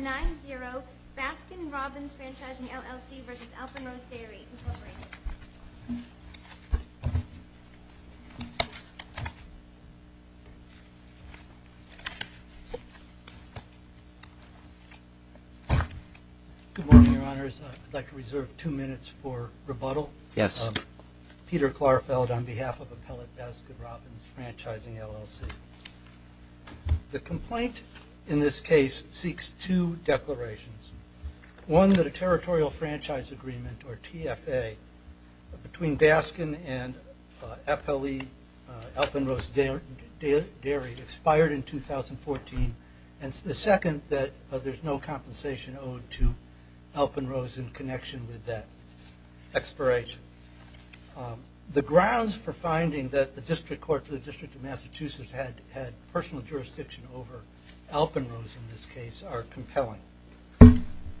9-0, Baskin-Robbins Franchising LLC v. Alpenrose Dairy, Incorporated. Good morning, Your Honors. I'd like to reserve two minutes for rebuttal. Yes. Peter Klarfeld on behalf of Appellate Baskin-Robbins Franchising LLC. The complaint in this case seeks two declarations. One, that a territorial franchise agreement, or TFA, between Baskin and Appellate Alpenrose Dairy expired in 2014, and the second, that there's no compensation owed to Alpenrose in connection with that expiration. The grounds for finding that the District Court for the District of Massachusetts had personal jurisdiction over Alpenrose in this case are compelling.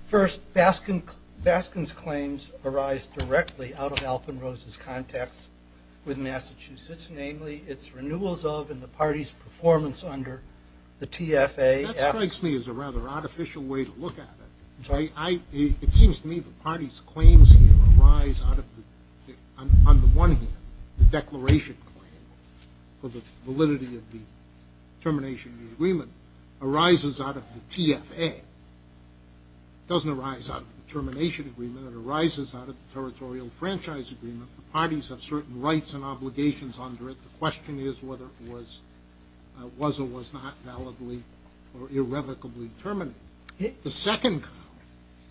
First, Baskin's claims arise directly out of Alpenrose's contacts with Massachusetts, namely its renewals of and the party's performance under the TFA. That strikes me as a rather artificial way to look at it. It seems to me the party's claims here arise out of, on the one hand, the declaration claim for the validity of the termination of the agreement arises out of the TFA. It doesn't arise out of the termination agreement. It arises out of the territorial franchise agreement. The parties have certain rights and obligations under it. The question is whether it was or was not validly or irrevocably terminated. The second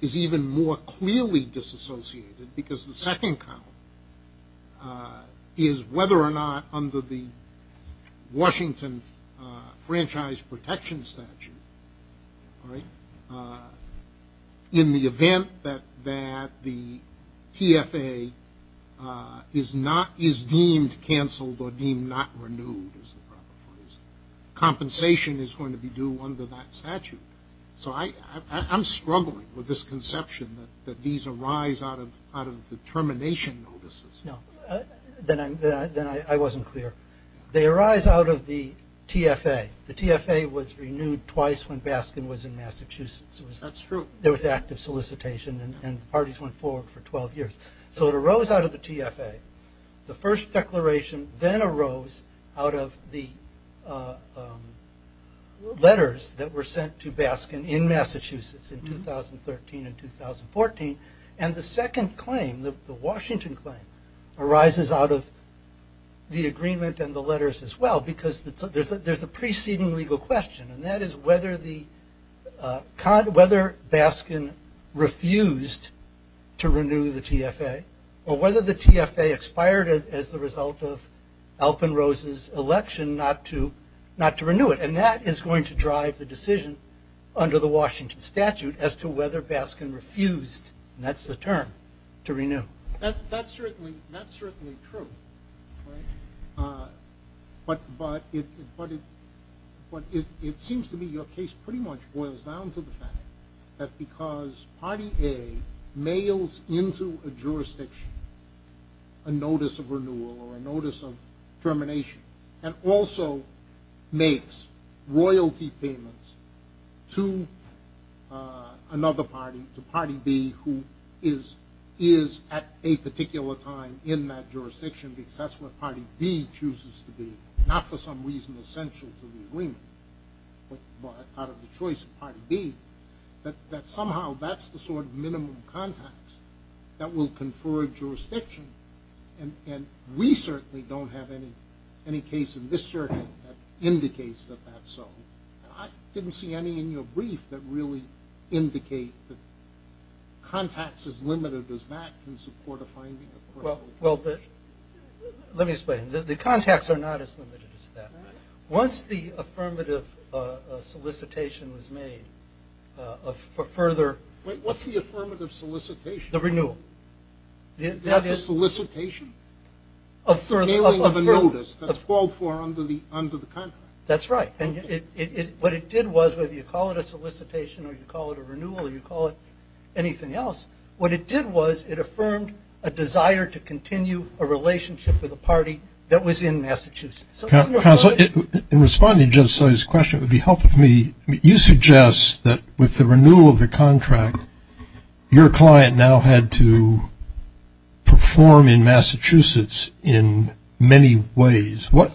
is even more clearly disassociated, because the second count is whether or not under the Washington Franchise Protection Statute, in the event that the TFA is deemed canceled or deemed not renewed, is the proper phrase, compensation is going to be due under that statute. So I'm struggling with this conception that these arise out of the termination notices. Then I wasn't clear. They arise out of the TFA. The TFA was renewed twice when Baskin was in Massachusetts. That's true. There was active solicitation and parties went forward for 12 years. So it arose out of the TFA. The first declaration then arose out of the letters that were sent to Baskin in Massachusetts in 2013 and 2014. And the second claim, the Washington claim, arises out of the agreement and the letters as well, because there's a preceding legal question, and that is whether Baskin refused to renew the TFA or whether the TFA expired as the result of Alpenrose's election not to renew it. And that is going to drive the decision under the Washington Statute as to whether Baskin refused, and that's the term, to renew. That's certainly true. But it seems to me your case pretty much boils down to the fact that because party A mails into a jurisdiction a notice of renewal or a notice of termination and also makes royalty payments to another party, to party B, who is at a particular time in that jurisdiction because that's what party B chooses to be, not for some reason essential to the agreement, but out of the choice of party B, that somehow that's the sort of minimum contacts that will confer a jurisdiction, and we certainly don't have any case in this circuit that indicates that that's so. I didn't see any in your brief that really indicate that contacts as limited as that can support a finding of personal interest. Well, let me explain. The contacts are not as limited as that. Once the affirmative solicitation was made for further... Wait, what's the affirmative solicitation? The renewal. That's a solicitation? Affirming of a notice that's called for under the contract. That's right. And what it did was, whether you call it a solicitation or you call it a renewal or you call it anything else, what it did was it affirmed a desire to continue a relationship with a party that was in Massachusetts. Counsel, in responding to Judge Sully's question, it would be helpful to me, you suggest that with the renewal of the contract, your client now had to perform in Massachusetts in many ways. What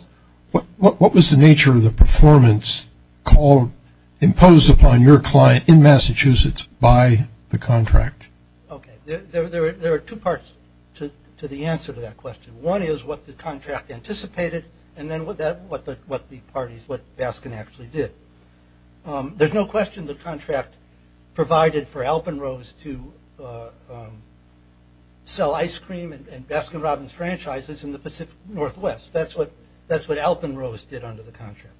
was the nature of the performance called, imposed upon your client in Massachusetts by the contract? Okay, there are two parts to the answer to that question. One is what the contract anticipated and then what the parties, what Baskin actually did. There's no question the contract provided for Alpenrose to sell ice cream and Baskin-Robbins franchises in the Pacific Northwest. That's what Alpenrose did under the contract.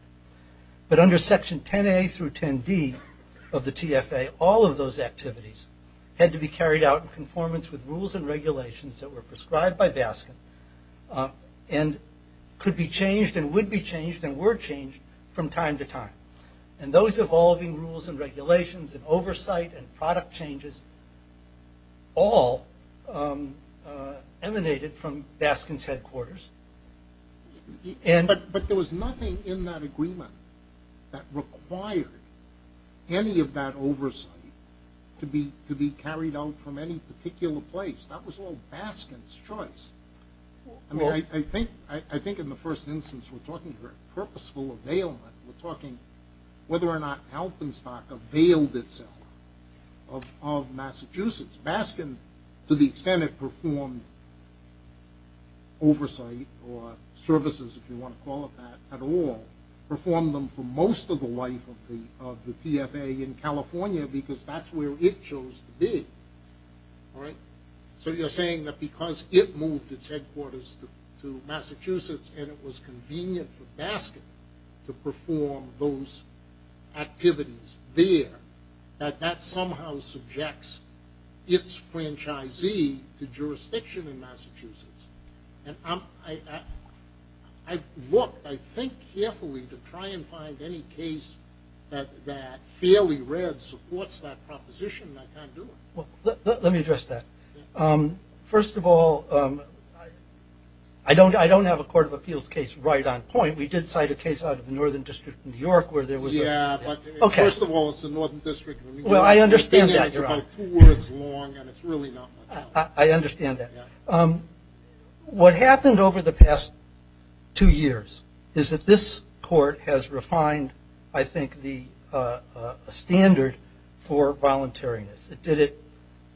But under section 10A through 10D of the TFA, all of those activities had to be carried out in conformance with rules and regulations that were prescribed by Baskin and could be changed and would be changed and were changed from time to time. And those evolving rules and regulations and oversight and product changes all emanated from Baskin's headquarters. But there was nothing in that agreement that required any of that oversight to be carried out from any particular place. That was all Baskin's choice. I think in the first instance we're talking purposeful availment. We're talking whether or not Alpenstock availed itself of Massachusetts. Baskin, to the extent it performed oversight or services, if you want to call it that, at all, performed them for most of the life of the TFA in California because that's where it chose to be. So you're saying that because it moved its headquarters to Massachusetts and it was convenient for Baskin to perform those activities there, that that somehow subjects its franchisee to jurisdiction in Massachusetts. I've looked, I think, carefully to try and find any case that fairly read supports that proposition and I can't do it. Let me address that. First of all, I don't have a court of appeals case right on point. We did cite a case out of the Northern District of New York where there was a... Yeah, but first of all, it's the Northern District of New York. Well, I understand that, Your Honor. It's about two words long and it's really not much. I understand that. What happened over the past two years is that this court has refined, I think, the standard for voluntariness. It did it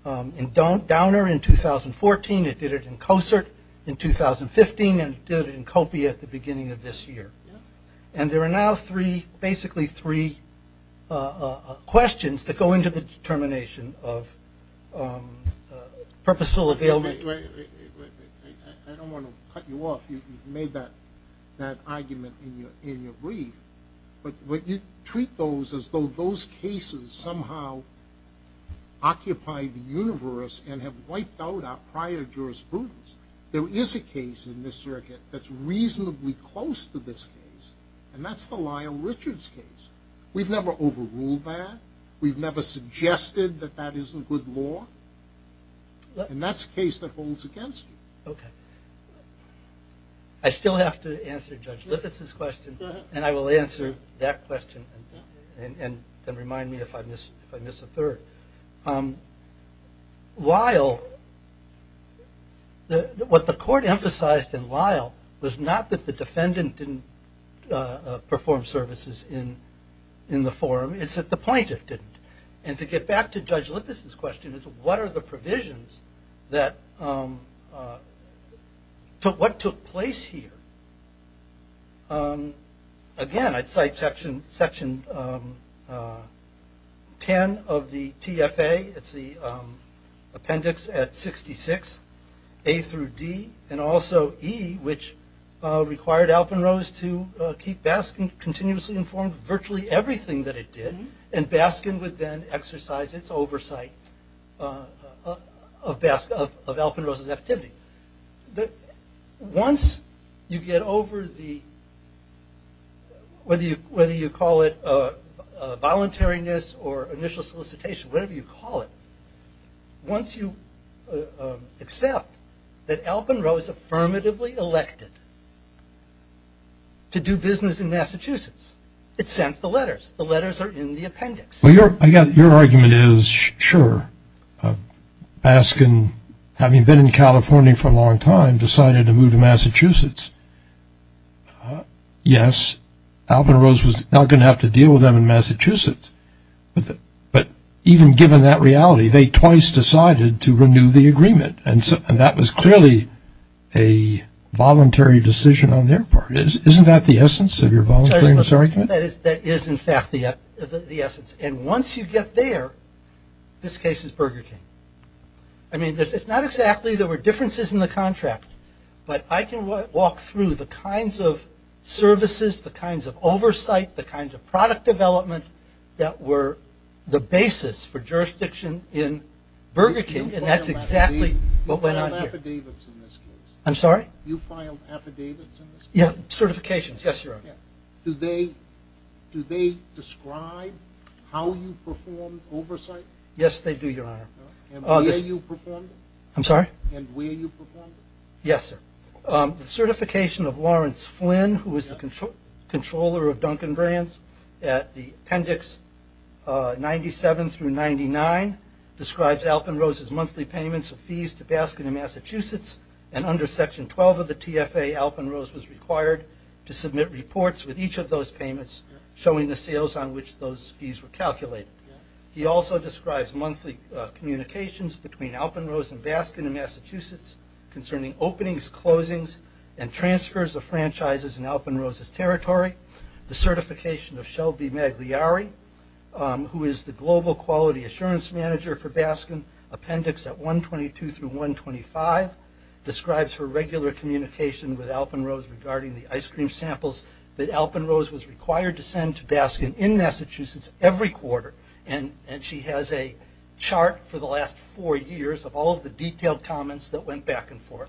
in Downer in 2014, it did it in Cosert in 2015, and it did it in Copia at the beginning of this year. And there are now three, basically three, questions that go into the determination of purposeful availability. I don't want to cut you off. You've made that argument in your brief. But you treat those as though those cases somehow occupy the universe and have wiped out our prior jurisprudence. There is a case in this circuit that's reasonably close to this case and that's the Lyle Richards case. We've never overruled that. We've never suggested that that isn't good law. And that's a case that holds against you. Okay. I still have to answer Judge Lippis' question and I will answer that question and remind me if I miss a third. Lyle, what the court emphasized in Lyle was not that the defendant didn't perform services in the forum, it's that the plaintiff didn't. And to get back to Judge Lippis' question, what are the provisions that, what took place here? Again, I'd cite section 10 of the TFA, it's the appendix at 66, A through D, and also E, which required Alpenrose to keep Baskin continuously informed of virtually everything that it did, and Baskin would then exercise its oversight of Alpenrose's activity. Once you get over the, whether you call it voluntariness or initial solicitation, whatever you call it, once you accept that Alpenrose affirmatively elected to do business in Massachusetts, it sent the letters. The letters are in the appendix. Your argument is, sure, Baskin, having been in California for a long time, decided to move to Massachusetts. Yes, Alpenrose was not going to have to deal with them in Massachusetts, but even given that reality, they twice decided to renew the agreement, and that was clearly a voluntary decision on their part. Isn't that the essence of your voluntariness argument? That is, in fact, the essence. And once you get there, this case is Burger King. I mean, it's not exactly there were differences in the contract, but I can walk through the kinds of services, the kinds of oversight, the kinds of product development that were the basis for jurisdiction in Burger King, and that's exactly what went on here. You filed affidavits in this case? I'm sorry? You filed affidavits in this case? Yeah, certifications, yes, Your Honor. Do they describe how you performed oversight? Yes, they do, Your Honor. And where you performed it? I'm sorry? And where you performed it? Yes, sir. The certification of Lawrence Flynn, who is the controller of Dunkin' Brands, at the appendix 97 through 99, describes Alpenrose's monthly payments of fees to Baskin and Massachusetts, and under Section 12 of the TFA, Alpenrose was required to submit reports with each of those payments showing the sales on which those fees were calculated. The certification of Shelby Magliari, who is the Global Quality Assurance Manager for Baskin, appendix at 122 through 125, describes her regular communication with Alpenrose regarding the ice cream samples that Alpenrose was required to send to Baskin in Massachusetts every quarter, and she has a chart for the last four years of all of the detailed comments that went before her.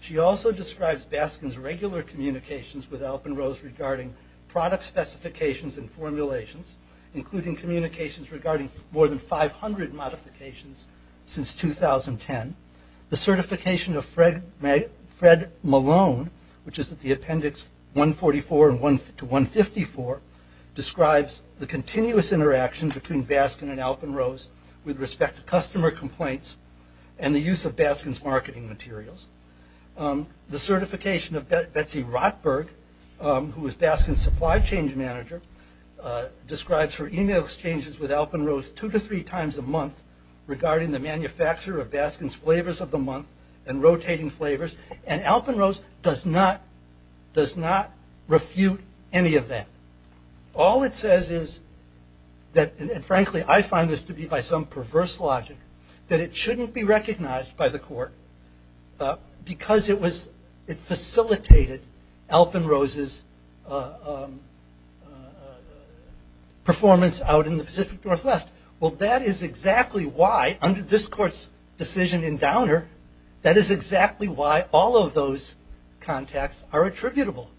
She also describes Baskin's regular communications with Alpenrose regarding product specifications and formulations, including communications regarding more than 500 modifications since 2010. The certification of Fred Malone, which is at the appendix 144 to 154, describes the continuous interaction between Baskin and Alpenrose with respect to customer complaints and the use of Baskin's marketing materials. The certification of Betsy Rotberg, who is Baskin's Supply Change Manager, describes her email exchanges with Alpenrose two to three times a month regarding the manufacture of Baskin's flavors of the month and rotating flavors, and Alpenrose does not refute any of that. All it says is that, and frankly I find this to be by some perverse logic, that it shouldn't be recognized by the court because it facilitated Alpenrose's performance out in the Pacific Northwest. Well, that is exactly why, under this court's decision in Downer, that is exactly why all of those contacts are attributable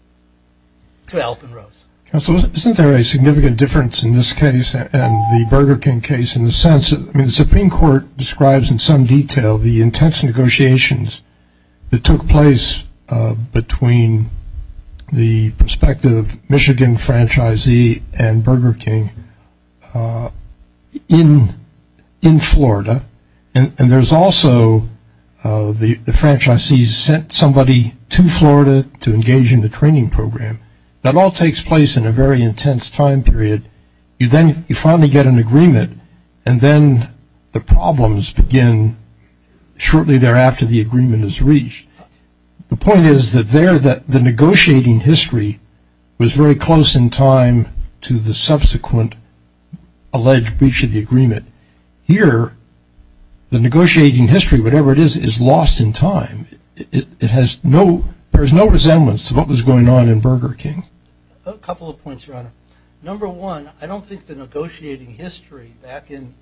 to Alpenrose. Counsel, isn't there a significant difference in this case and the Burger King case in the sense that, I mean the Supreme Court describes in some detail the intense negotiations that took place between the prospective Michigan franchisee and Burger King in Florida, and there's also the franchisee sent somebody to Florida to engage in the training program. That all takes place in a very intense time period. You then finally get an agreement and then the problems begin shortly thereafter the agreement is reached. The point is that there, the negotiating history was very close in time to the subsequent alleged breach of the agreement. Here, the negotiating history, whatever it is, is lost in time. It has no, there is no resemblance to what was going on in Burger King. A couple of points, Your Honor. Number one, I don't think the negotiating history back in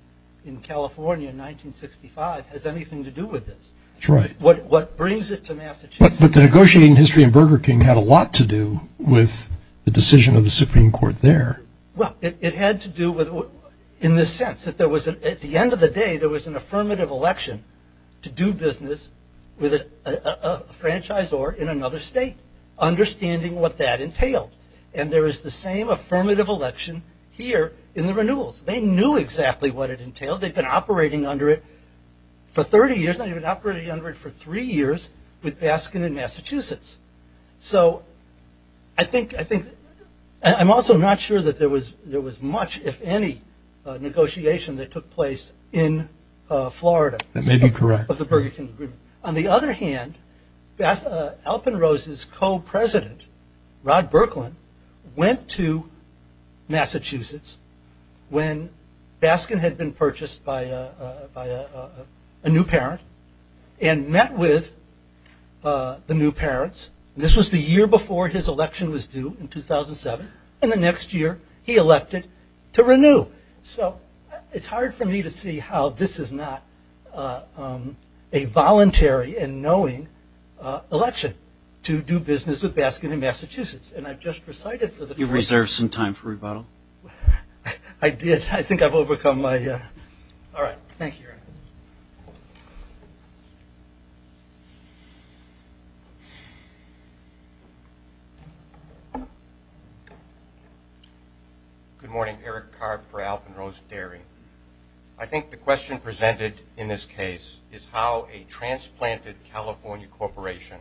California in 1965 has anything to do with this. What brings it to Massachusetts? But the negotiating history in Burger King had a lot to do with the decision of the Supreme Court there. Well, it had to do with, in the sense that there was, at the end of the day, there was an affirmative election to do business with a franchisor in another state, understanding what that entailed. And there is the same affirmative election here in the renewals. They knew exactly what it entailed. They'd been operating under it for 30 years, not even operating under it for three years with Baskin in Massachusetts. So, I think, I think, I'm also not sure that there was much, if any, negotiation that took place in Florida. That may be correct. On the other hand, Alpenrose's co-president, Rod Berkland, went to Massachusetts when Baskin had been purchased by a new parent and met with the new parents. This was the year before his election was due in 2007. And the next year, he elected to renew. So, it's hard for me to see how this is not a voluntary and knowing election to do business with Baskin in Massachusetts. And I've just recited for the first time. You've reserved some time for rebuttal. I did. I think I've overcome my... All right. Thank you, Eric. Good morning. Eric Karp for Alpenrose Dairy. I think the question presented in this case is how a transplanted California corporation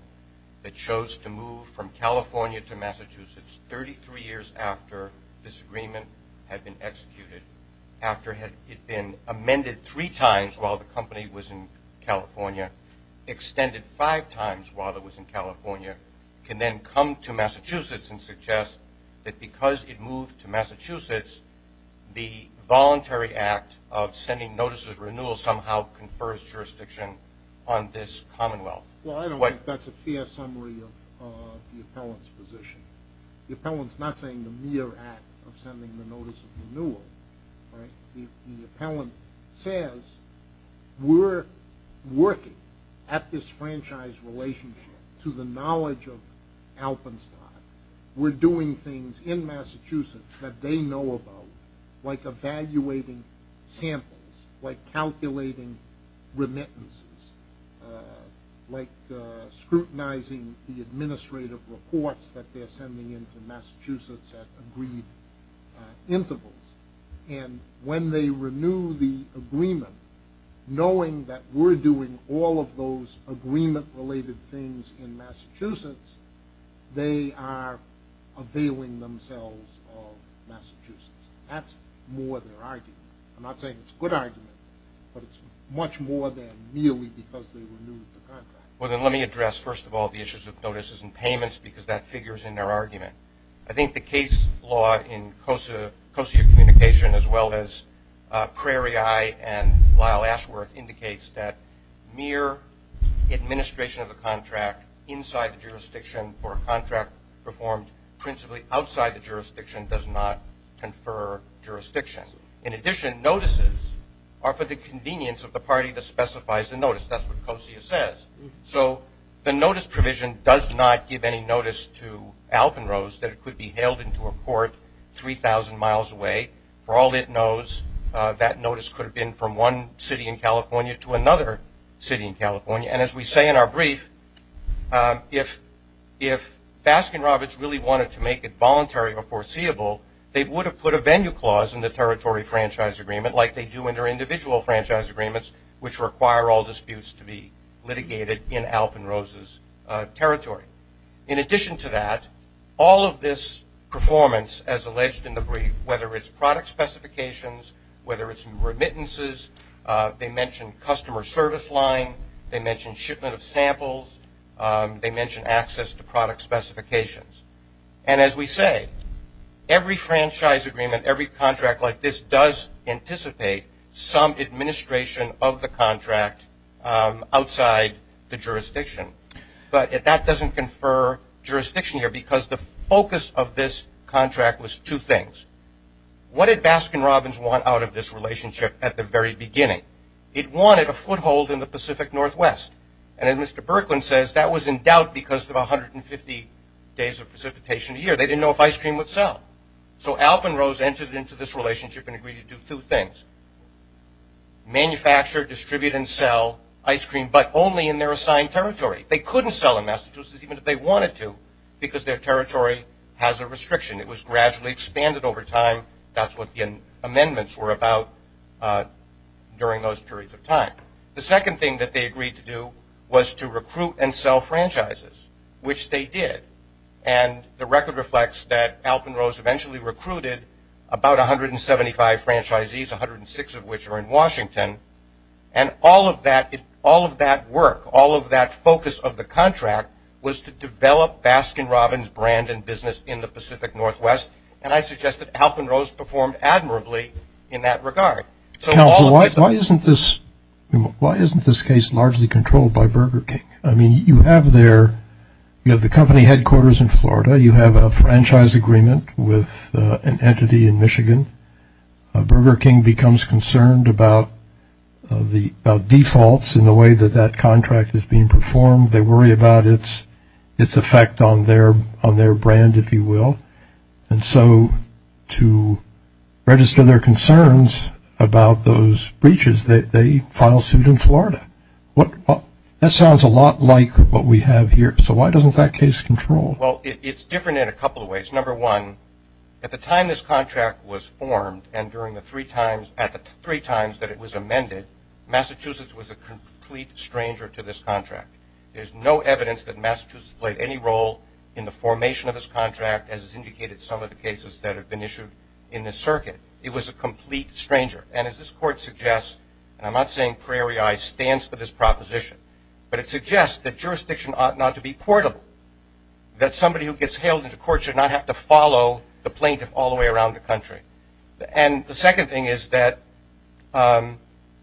that chose to move from California to Massachusetts 33 years after this agreement had been executed, after it had been amended three times while the company was in California, extended five times while it was in California, can then come to Massachusetts and suggest that because it moved to Massachusetts, the voluntary act of sending notices of renewal somehow confers jurisdiction on this commonwealth. Well, I don't think that's a fair summary of the appellant's position. The appellant's not saying the mere act of sending the notice of renewal. The appellant says, we're working at this franchise relationship to the knowledge of Alpenstock. We're doing things in Massachusetts that they know about, like evaluating samples, like calculating remittances, like scrutinizing the administrative reports that they're sending in to Massachusetts at agreed intervals. And when they renew the agreement, knowing that we're doing all of those agreement-related things in Massachusetts, they are availing themselves of Massachusetts. That's more their argument. I'm not saying it's a good argument, but it's much more than merely because they renewed the contract. Well, then let me address, first of all, the issues of notices and payments, because that figure's in their argument. I think the case law in Cosey of Communication, as well as Prairie Eye and Lyle Ashworth, indicates that mere administration of a contract inside the jurisdiction or a contract performed principally outside the jurisdiction does not confer jurisdiction. In addition, notices are for the convenience of the party that specifies the notice. That's what Cosey says. So the notice provision does not give any notice to Alpenrose that it could be hailed into a court 3,000 miles away. For all it knows, that notice could have been from one city in California to another city in California. And as we say in our brief, if Baskin-Robbins really wanted to make it voluntary or foreseeable, they would have put a venue clause in the territory franchise agreement like they do in their individual franchise agreements, which require all disputes to be litigated in Alpenrose's territory. In addition to that, all of this performance, as alleged in the brief, whether it's product specifications, whether it's remittances, they mention customer service line, they mention shipment of samples, they mention access to product specifications. And as we say, every franchise agreement, every contract like this does anticipate some administration of the contract outside the jurisdiction. But that doesn't confer jurisdiction here because the focus of this contract was two things. What did Baskin-Robbins want out of this relationship at the very beginning? It wanted a foothold in the Pacific Northwest. And as Mr. Berkman says, so Alpenrose entered into this relationship and agreed to do two things. Manufacture, distribute, and sell ice cream, but only in their assigned territory. They couldn't sell in Massachusetts even if they wanted to because their territory has a restriction. It was gradually expanded over time. That's what the amendments were about during those periods of time. The second thing that they agreed to do was to recruit and sell franchises, which they did. And the record reflects that Alpenrose eventually recruited about 175 franchisees, 106 of which are in Washington. And all of that, all of that work, all of that focus of the contract was to develop Baskin-Robbins brand and business in the Pacific Northwest. And I suggest that Alpenrose performed admirably in that regard. So why isn't this, why isn't this case largely controlled by Burger King? I mean, you have their, you have the company headquarters in Florida, you have the franchise agreement with an entity in Michigan. Burger King becomes concerned about the defaults in the way that that contract is being performed. They worry about its effect on their brand, if you will. And so, to register their concerns about those breaches, they file suit in Florida. That sounds a lot like what we have here. So why doesn't that case control? Reason number one, at the time this contract was formed and during the three times, at the three times that it was amended, Massachusetts was a complete stranger to this contract. There's no evidence that Massachusetts played any role in the formation of this contract, as is indicated in some of the cases that have been issued in this circuit. It was a complete stranger. And as this court suggests, and I'm not saying Prairie Eye stands for this proposition, but it suggests that jurisdiction ought not to be portable. That somebody who gets hailed into court should not have to follow the plaintiff all the way around the country. And the second thing is that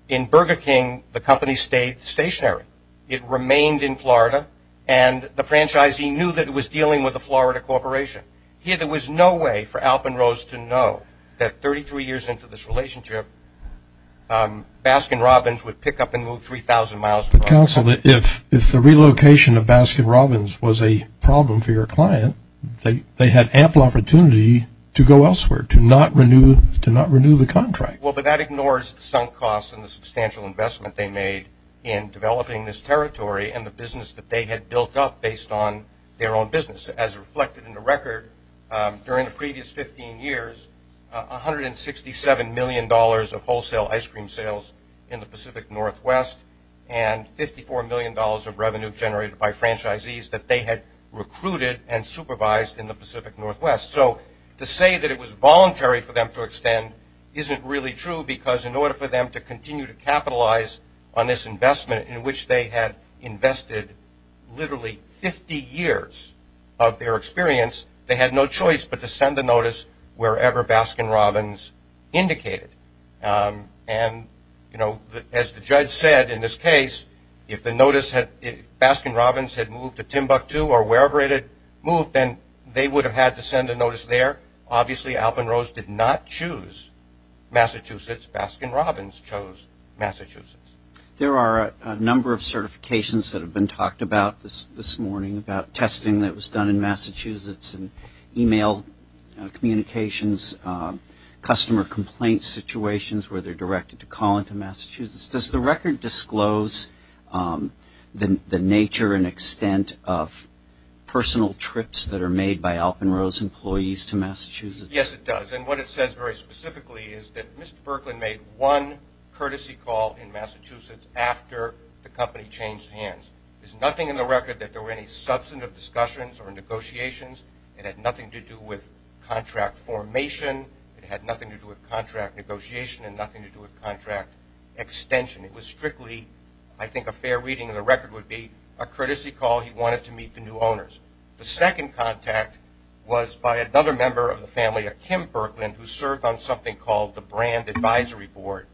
in Burger King, the company stayed stationary. It remained in Florida and the franchisee knew that it was dealing with a Florida corporation. Here, there was no way for Alpenrose to know that 33 years into this relationship, Baskin Robbins would pick up and go elsewhere. And so, if the relocation of Baskin Robbins was a problem for your client, they had ample opportunity to go elsewhere, to not renew the contract. Well, but that ignores the sunk costs and the substantial investment they made in developing this territory and the business that they had built up based on their own business. As reflected in the record, during the previous 15 years, $167 million of wholesale ice cream sales and $24 million of revenue generated by franchisees that they had recruited and supervised in the Pacific Northwest. So, to say that it was voluntary for them to extend isn't really true because in order for them to continue to capitalize on this investment in which they had invested literally 50 years of their experience, they had no choice but to send a notice that if Baskin Robbins had moved to Timbuktu or wherever it had moved, then they would have had to send a notice there. Obviously, Alpenrose did not choose Massachusetts. Baskin Robbins chose Massachusetts. There are a number of certifications that have been talked about this morning about testing that was done in Massachusetts and email communications, customer complaint situations where they're directed to call into Massachusetts. Does the record disclose the nature and extent of personal trips that are made by Alpenrose employees to Massachusetts? Yes, it does. And what it says very specifically is that Mr. Berkman made one courtesy call in Massachusetts after the company changed hands. There's nothing in the record that there were any substantive discussions or negotiations. It was a contract extension. It was strictly, I think a fair reading of the record would be, a courtesy call he wanted to meet the new owners. The second contact was by another member of the family, a Kim Berkman, who served on something called the Brand Advisory Board,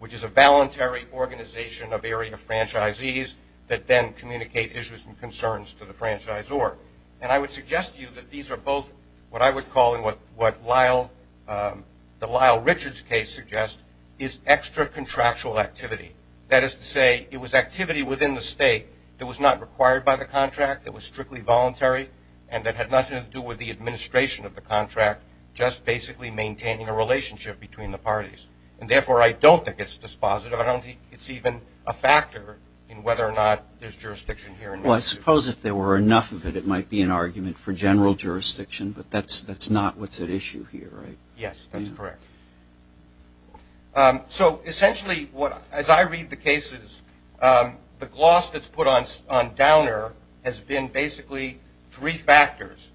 which is a voluntary organization of area franchisees that then communicate issues and concerns to the franchise board. And I would suggest to you that these are both what I would call and what Lyle, the Lyle Richards case suggests, is extra contractual activity. That is to say, it was activity within the state that was not required by the contract, that was strictly voluntary, and that had nothing to do with the administration of the contract, just basically maintaining a relationship between the parties. And therefore, I don't think it's dispositive. I don't think it's even a factor in whether or not there's jurisdiction here. Well, I suppose if there were enough of it, it might be an argument for general jurisdiction, but that's not what's at issue here, right? Yes, that's correct. So, essentially, as I read the cases, the gloss that's put on Downer has been basically three factors.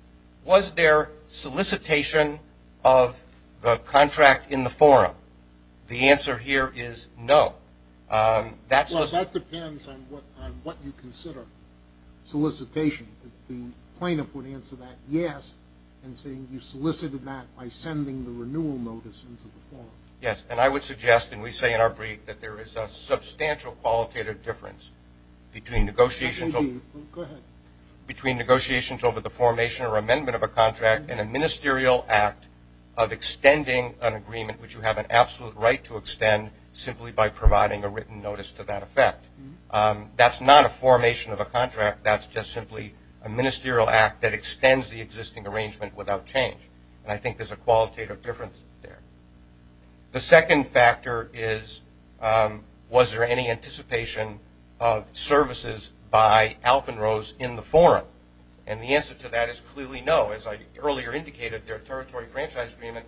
Was there solicitation of the contract in the forum? The answer here is no. Well, that depends on what you consider solicitation. The plaintiff would answer that yes, and saying you solicited that by sending the renewal notice into the forum. Yes, and I would suggest, and we say in our brief, that there is a substantial qualitative difference between negotiations between negotiations over the formation or amendment of a contract and a ministerial act of extending an agreement which you have an absolute right to extend simply by providing a written notice to that effect. That's not a formation of a contract. That's just simply a ministerial act that extends the existing arrangement without change. And I think there's a qualitative difference there. The second factor is was there any anticipation of services by Alpenrose in the forum? And the answer to that is clearly no. As I earlier indicated, their territory franchise agreement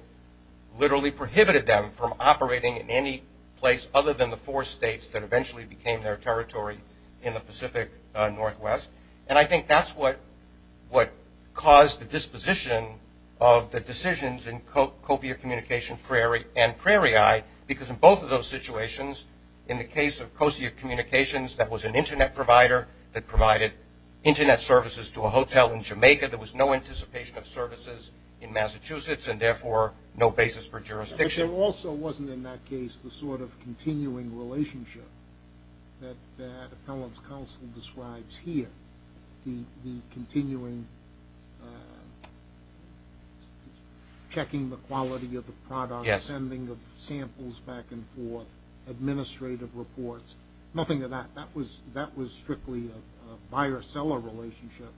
literally prohibited them from operating in any place other than the four states that eventually became their territory in the Pacific Northwest. And I think that's what caused the disposition of the decisions in Copia Communications and Prairie Eye because in both of those situations, in the case of Cocia Communications, that was an internet provider that provided internet services to a hotel in Jamaica. There was no anticipation of services in Massachusetts and therefore no basis for jurisdiction. But there also wasn't in that case the sort of continuing relationship that Appellant's Counsel describes here. The continuing checking the quality of the product, sending the samples back and forth, administrative reports, nothing of that. That was strictly a buyer-seller relationship,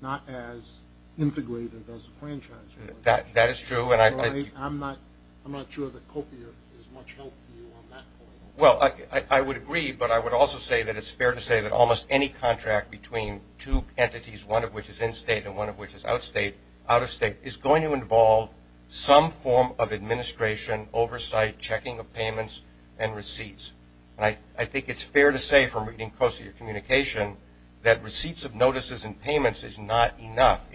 not as integrated as a franchise relationship. That is true. I'm not sure that Copia is much help to you on that point. Well, I would agree but I would also say that it's fair to say that almost any contract between two entities, one of which is in-state and one of which is out-of-state, is going to involve some form of administration, oversight, checking of payments and receipts. And I think it's fair to say from reading Copia Communications that receipts of notices and payments is not enough.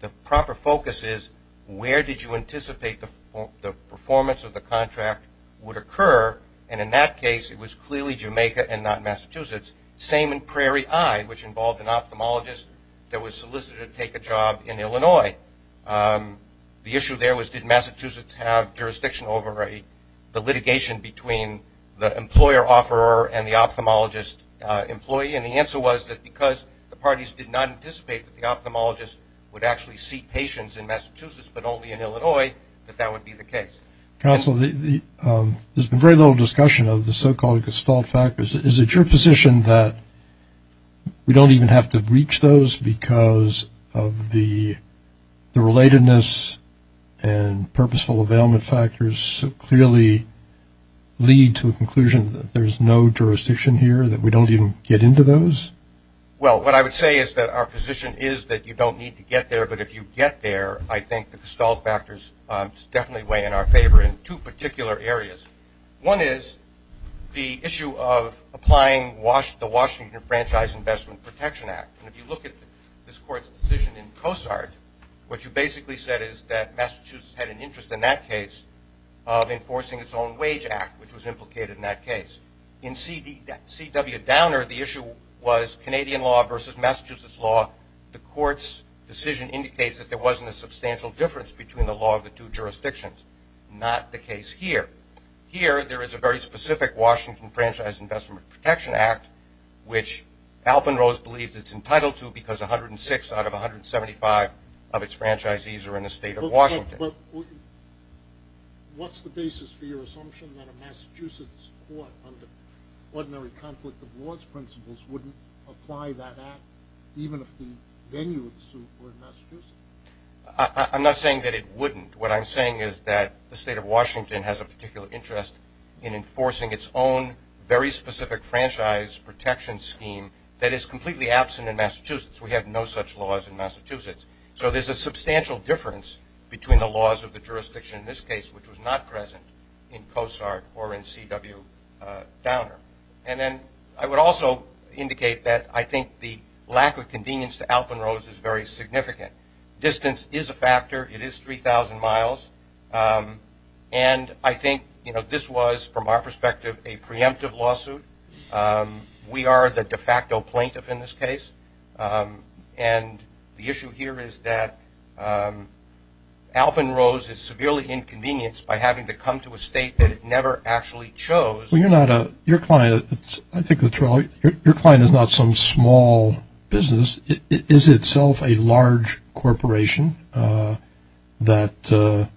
The proper focus is where did you anticipate the performance of the contract would occur and in that case it was clearly Jamaica and not Massachusetts. Same in Prairie Eye which involved an ophthalmologist that was solicited to take a job in Illinois. The issue there was did Massachusetts have jurisdiction over the litigation between the employer-offerer and the ophthalmologist employee and the answer was that because the parties did not anticipate that the ophthalmologist would actually see patients in Massachusetts but only in Illinois that that would be the case. Counsel, there's been very little discussion of the so-called gestalt factors. Is it your position that we don't even have to reach those because of the relatedness and purposeful availment factors clearly lead to a conclusion that there's no jurisdiction here, that we don't even get into those? Well, what I would say is that our position is that you don't need to get there but if you get there, I think the gestalt factors definitely weigh in our favor in two particular areas. One is the issue of applying the Washington Franchise Investment Protection Act. If you look at this court's decision in CoSART, what you basically said is that Massachusetts had an interest in that case of enforcing its own wage act which was implicated in that case. In C.W. Downer, the issue was Canadian law versus Massachusetts law. The court's decision indicates that there wasn't a substantial difference between the law of the two jurisdictions, not the case here. Here, there is a very specific Washington Franchise Investment Protection Act which Alpenrose believes it's entitled to because 106 out of 175 of its franchisees are in the state of Washington. But what's the basis for your assumption that a Massachusetts court under ordinary conflict of laws principles wouldn't apply that act even if the venue of the suit were in Massachusetts? I'm not saying that it wouldn't. What I'm saying is that the state of Washington has a particular interest in enforcing its own very specific franchise protection scheme that is completely absent in Massachusetts. So there's a substantial difference between the laws of the jurisdiction in this case which was not present in COSART or in C.W. Downer. And then I would also indicate that I think the lack of convenience to Alpenrose is very significant. Distance is a factor. It is 3,000 miles. And I think this was, from our perspective, a preemptive lawsuit. We are the state of Massachusetts. The issue here is that Alpenrose is severely inconvenienced by having to come to a state that it never actually chose. Well, your client is not some small business. It is itself a large corporation that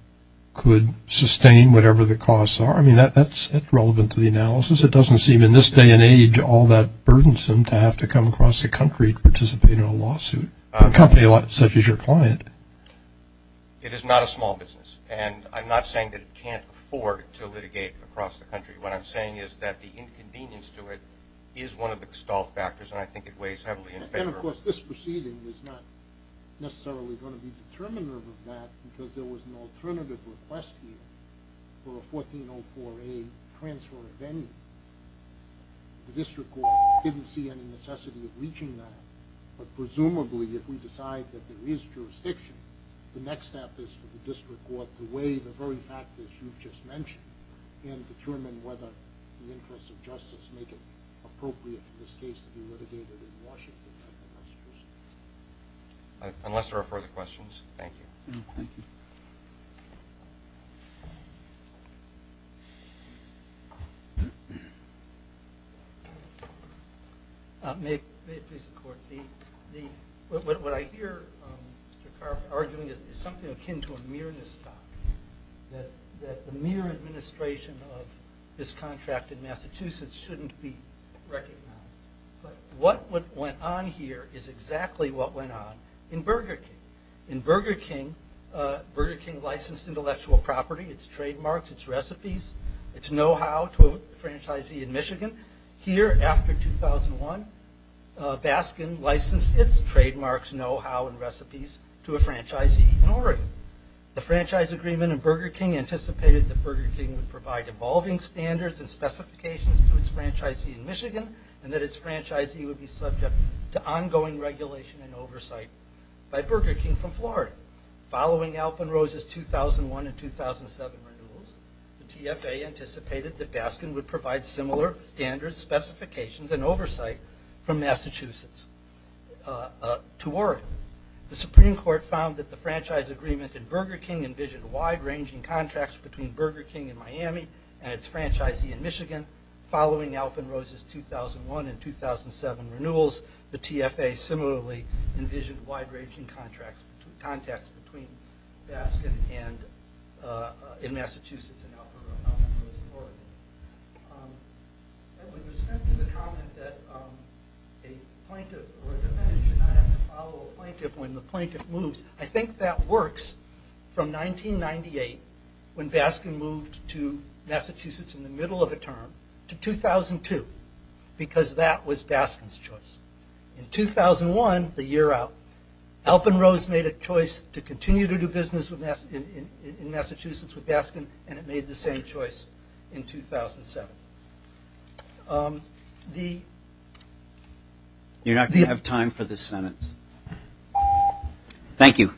could sustain whatever the costs are. I mean, that's relevant to the analysis. It doesn't seem in this day and age all that burdensome to have to come across the state of Massachusetts for a 1404A transfer of any. The district And I think that's a very important point. I think that's a very important point. I think that's a very important point. And presumably, if we decide that there is jurisdiction, the next step is for the district court to weigh the very factors you just mentioned and determine whether the interests of justice make it appropriate for this case to be litigated in Washington. Unless there are further questions, thank you. Thank you. questions? Thank you. May it please the court. What I hear Mr. Carp arguing is something akin to the mere administration of this contract in Massachusetts shouldn't be recognized, but what went on here is exactly what went on in Burger King. In Burger King licensed intellectual property, its trademarks, its recipes, its know-how to a franchisee in Michigan. Here, after 2001, Baskin licensed its trademarks, know-how, and recipes to a franchisee in Oregon. The franchise agreement in Burger King anticipated that Burger King would provide evolving standards and specifications to its franchisee in Michigan and that its franchisee would be subject to ongoing regulation and oversight by Burger King from Florida. Following Alpenrose's 2001 and 2007 renewals, the TFA anticipated that Baskin would provide similar standards, specifications, and oversight from Massachusetts to Oregon. The Supreme Court found that the franchise agreement in Burger King envisioned wide ranging contracts between Burger King and the franchisee in Michigan. Following Alpenrose's 2001 and 2007 renewals, the TFA similarly envisioned wide ranging contracts between Baskin and Massachusetts and Alpenrose in Oregon. With respect to the comment that a plaintiff should not have to follow a plaintiff when the plaintiff moves, I think that works from 1998 when Baskin moved to Massachusetts in the middle of a term to 2002 because that was Baskin's choice. In 2001, the year out, Alpenrose made a choice to continue to do business in Massachusetts and made the same choice in 2007. The ‑‑ You're not going to have time for this sentence. Thank you. Okay.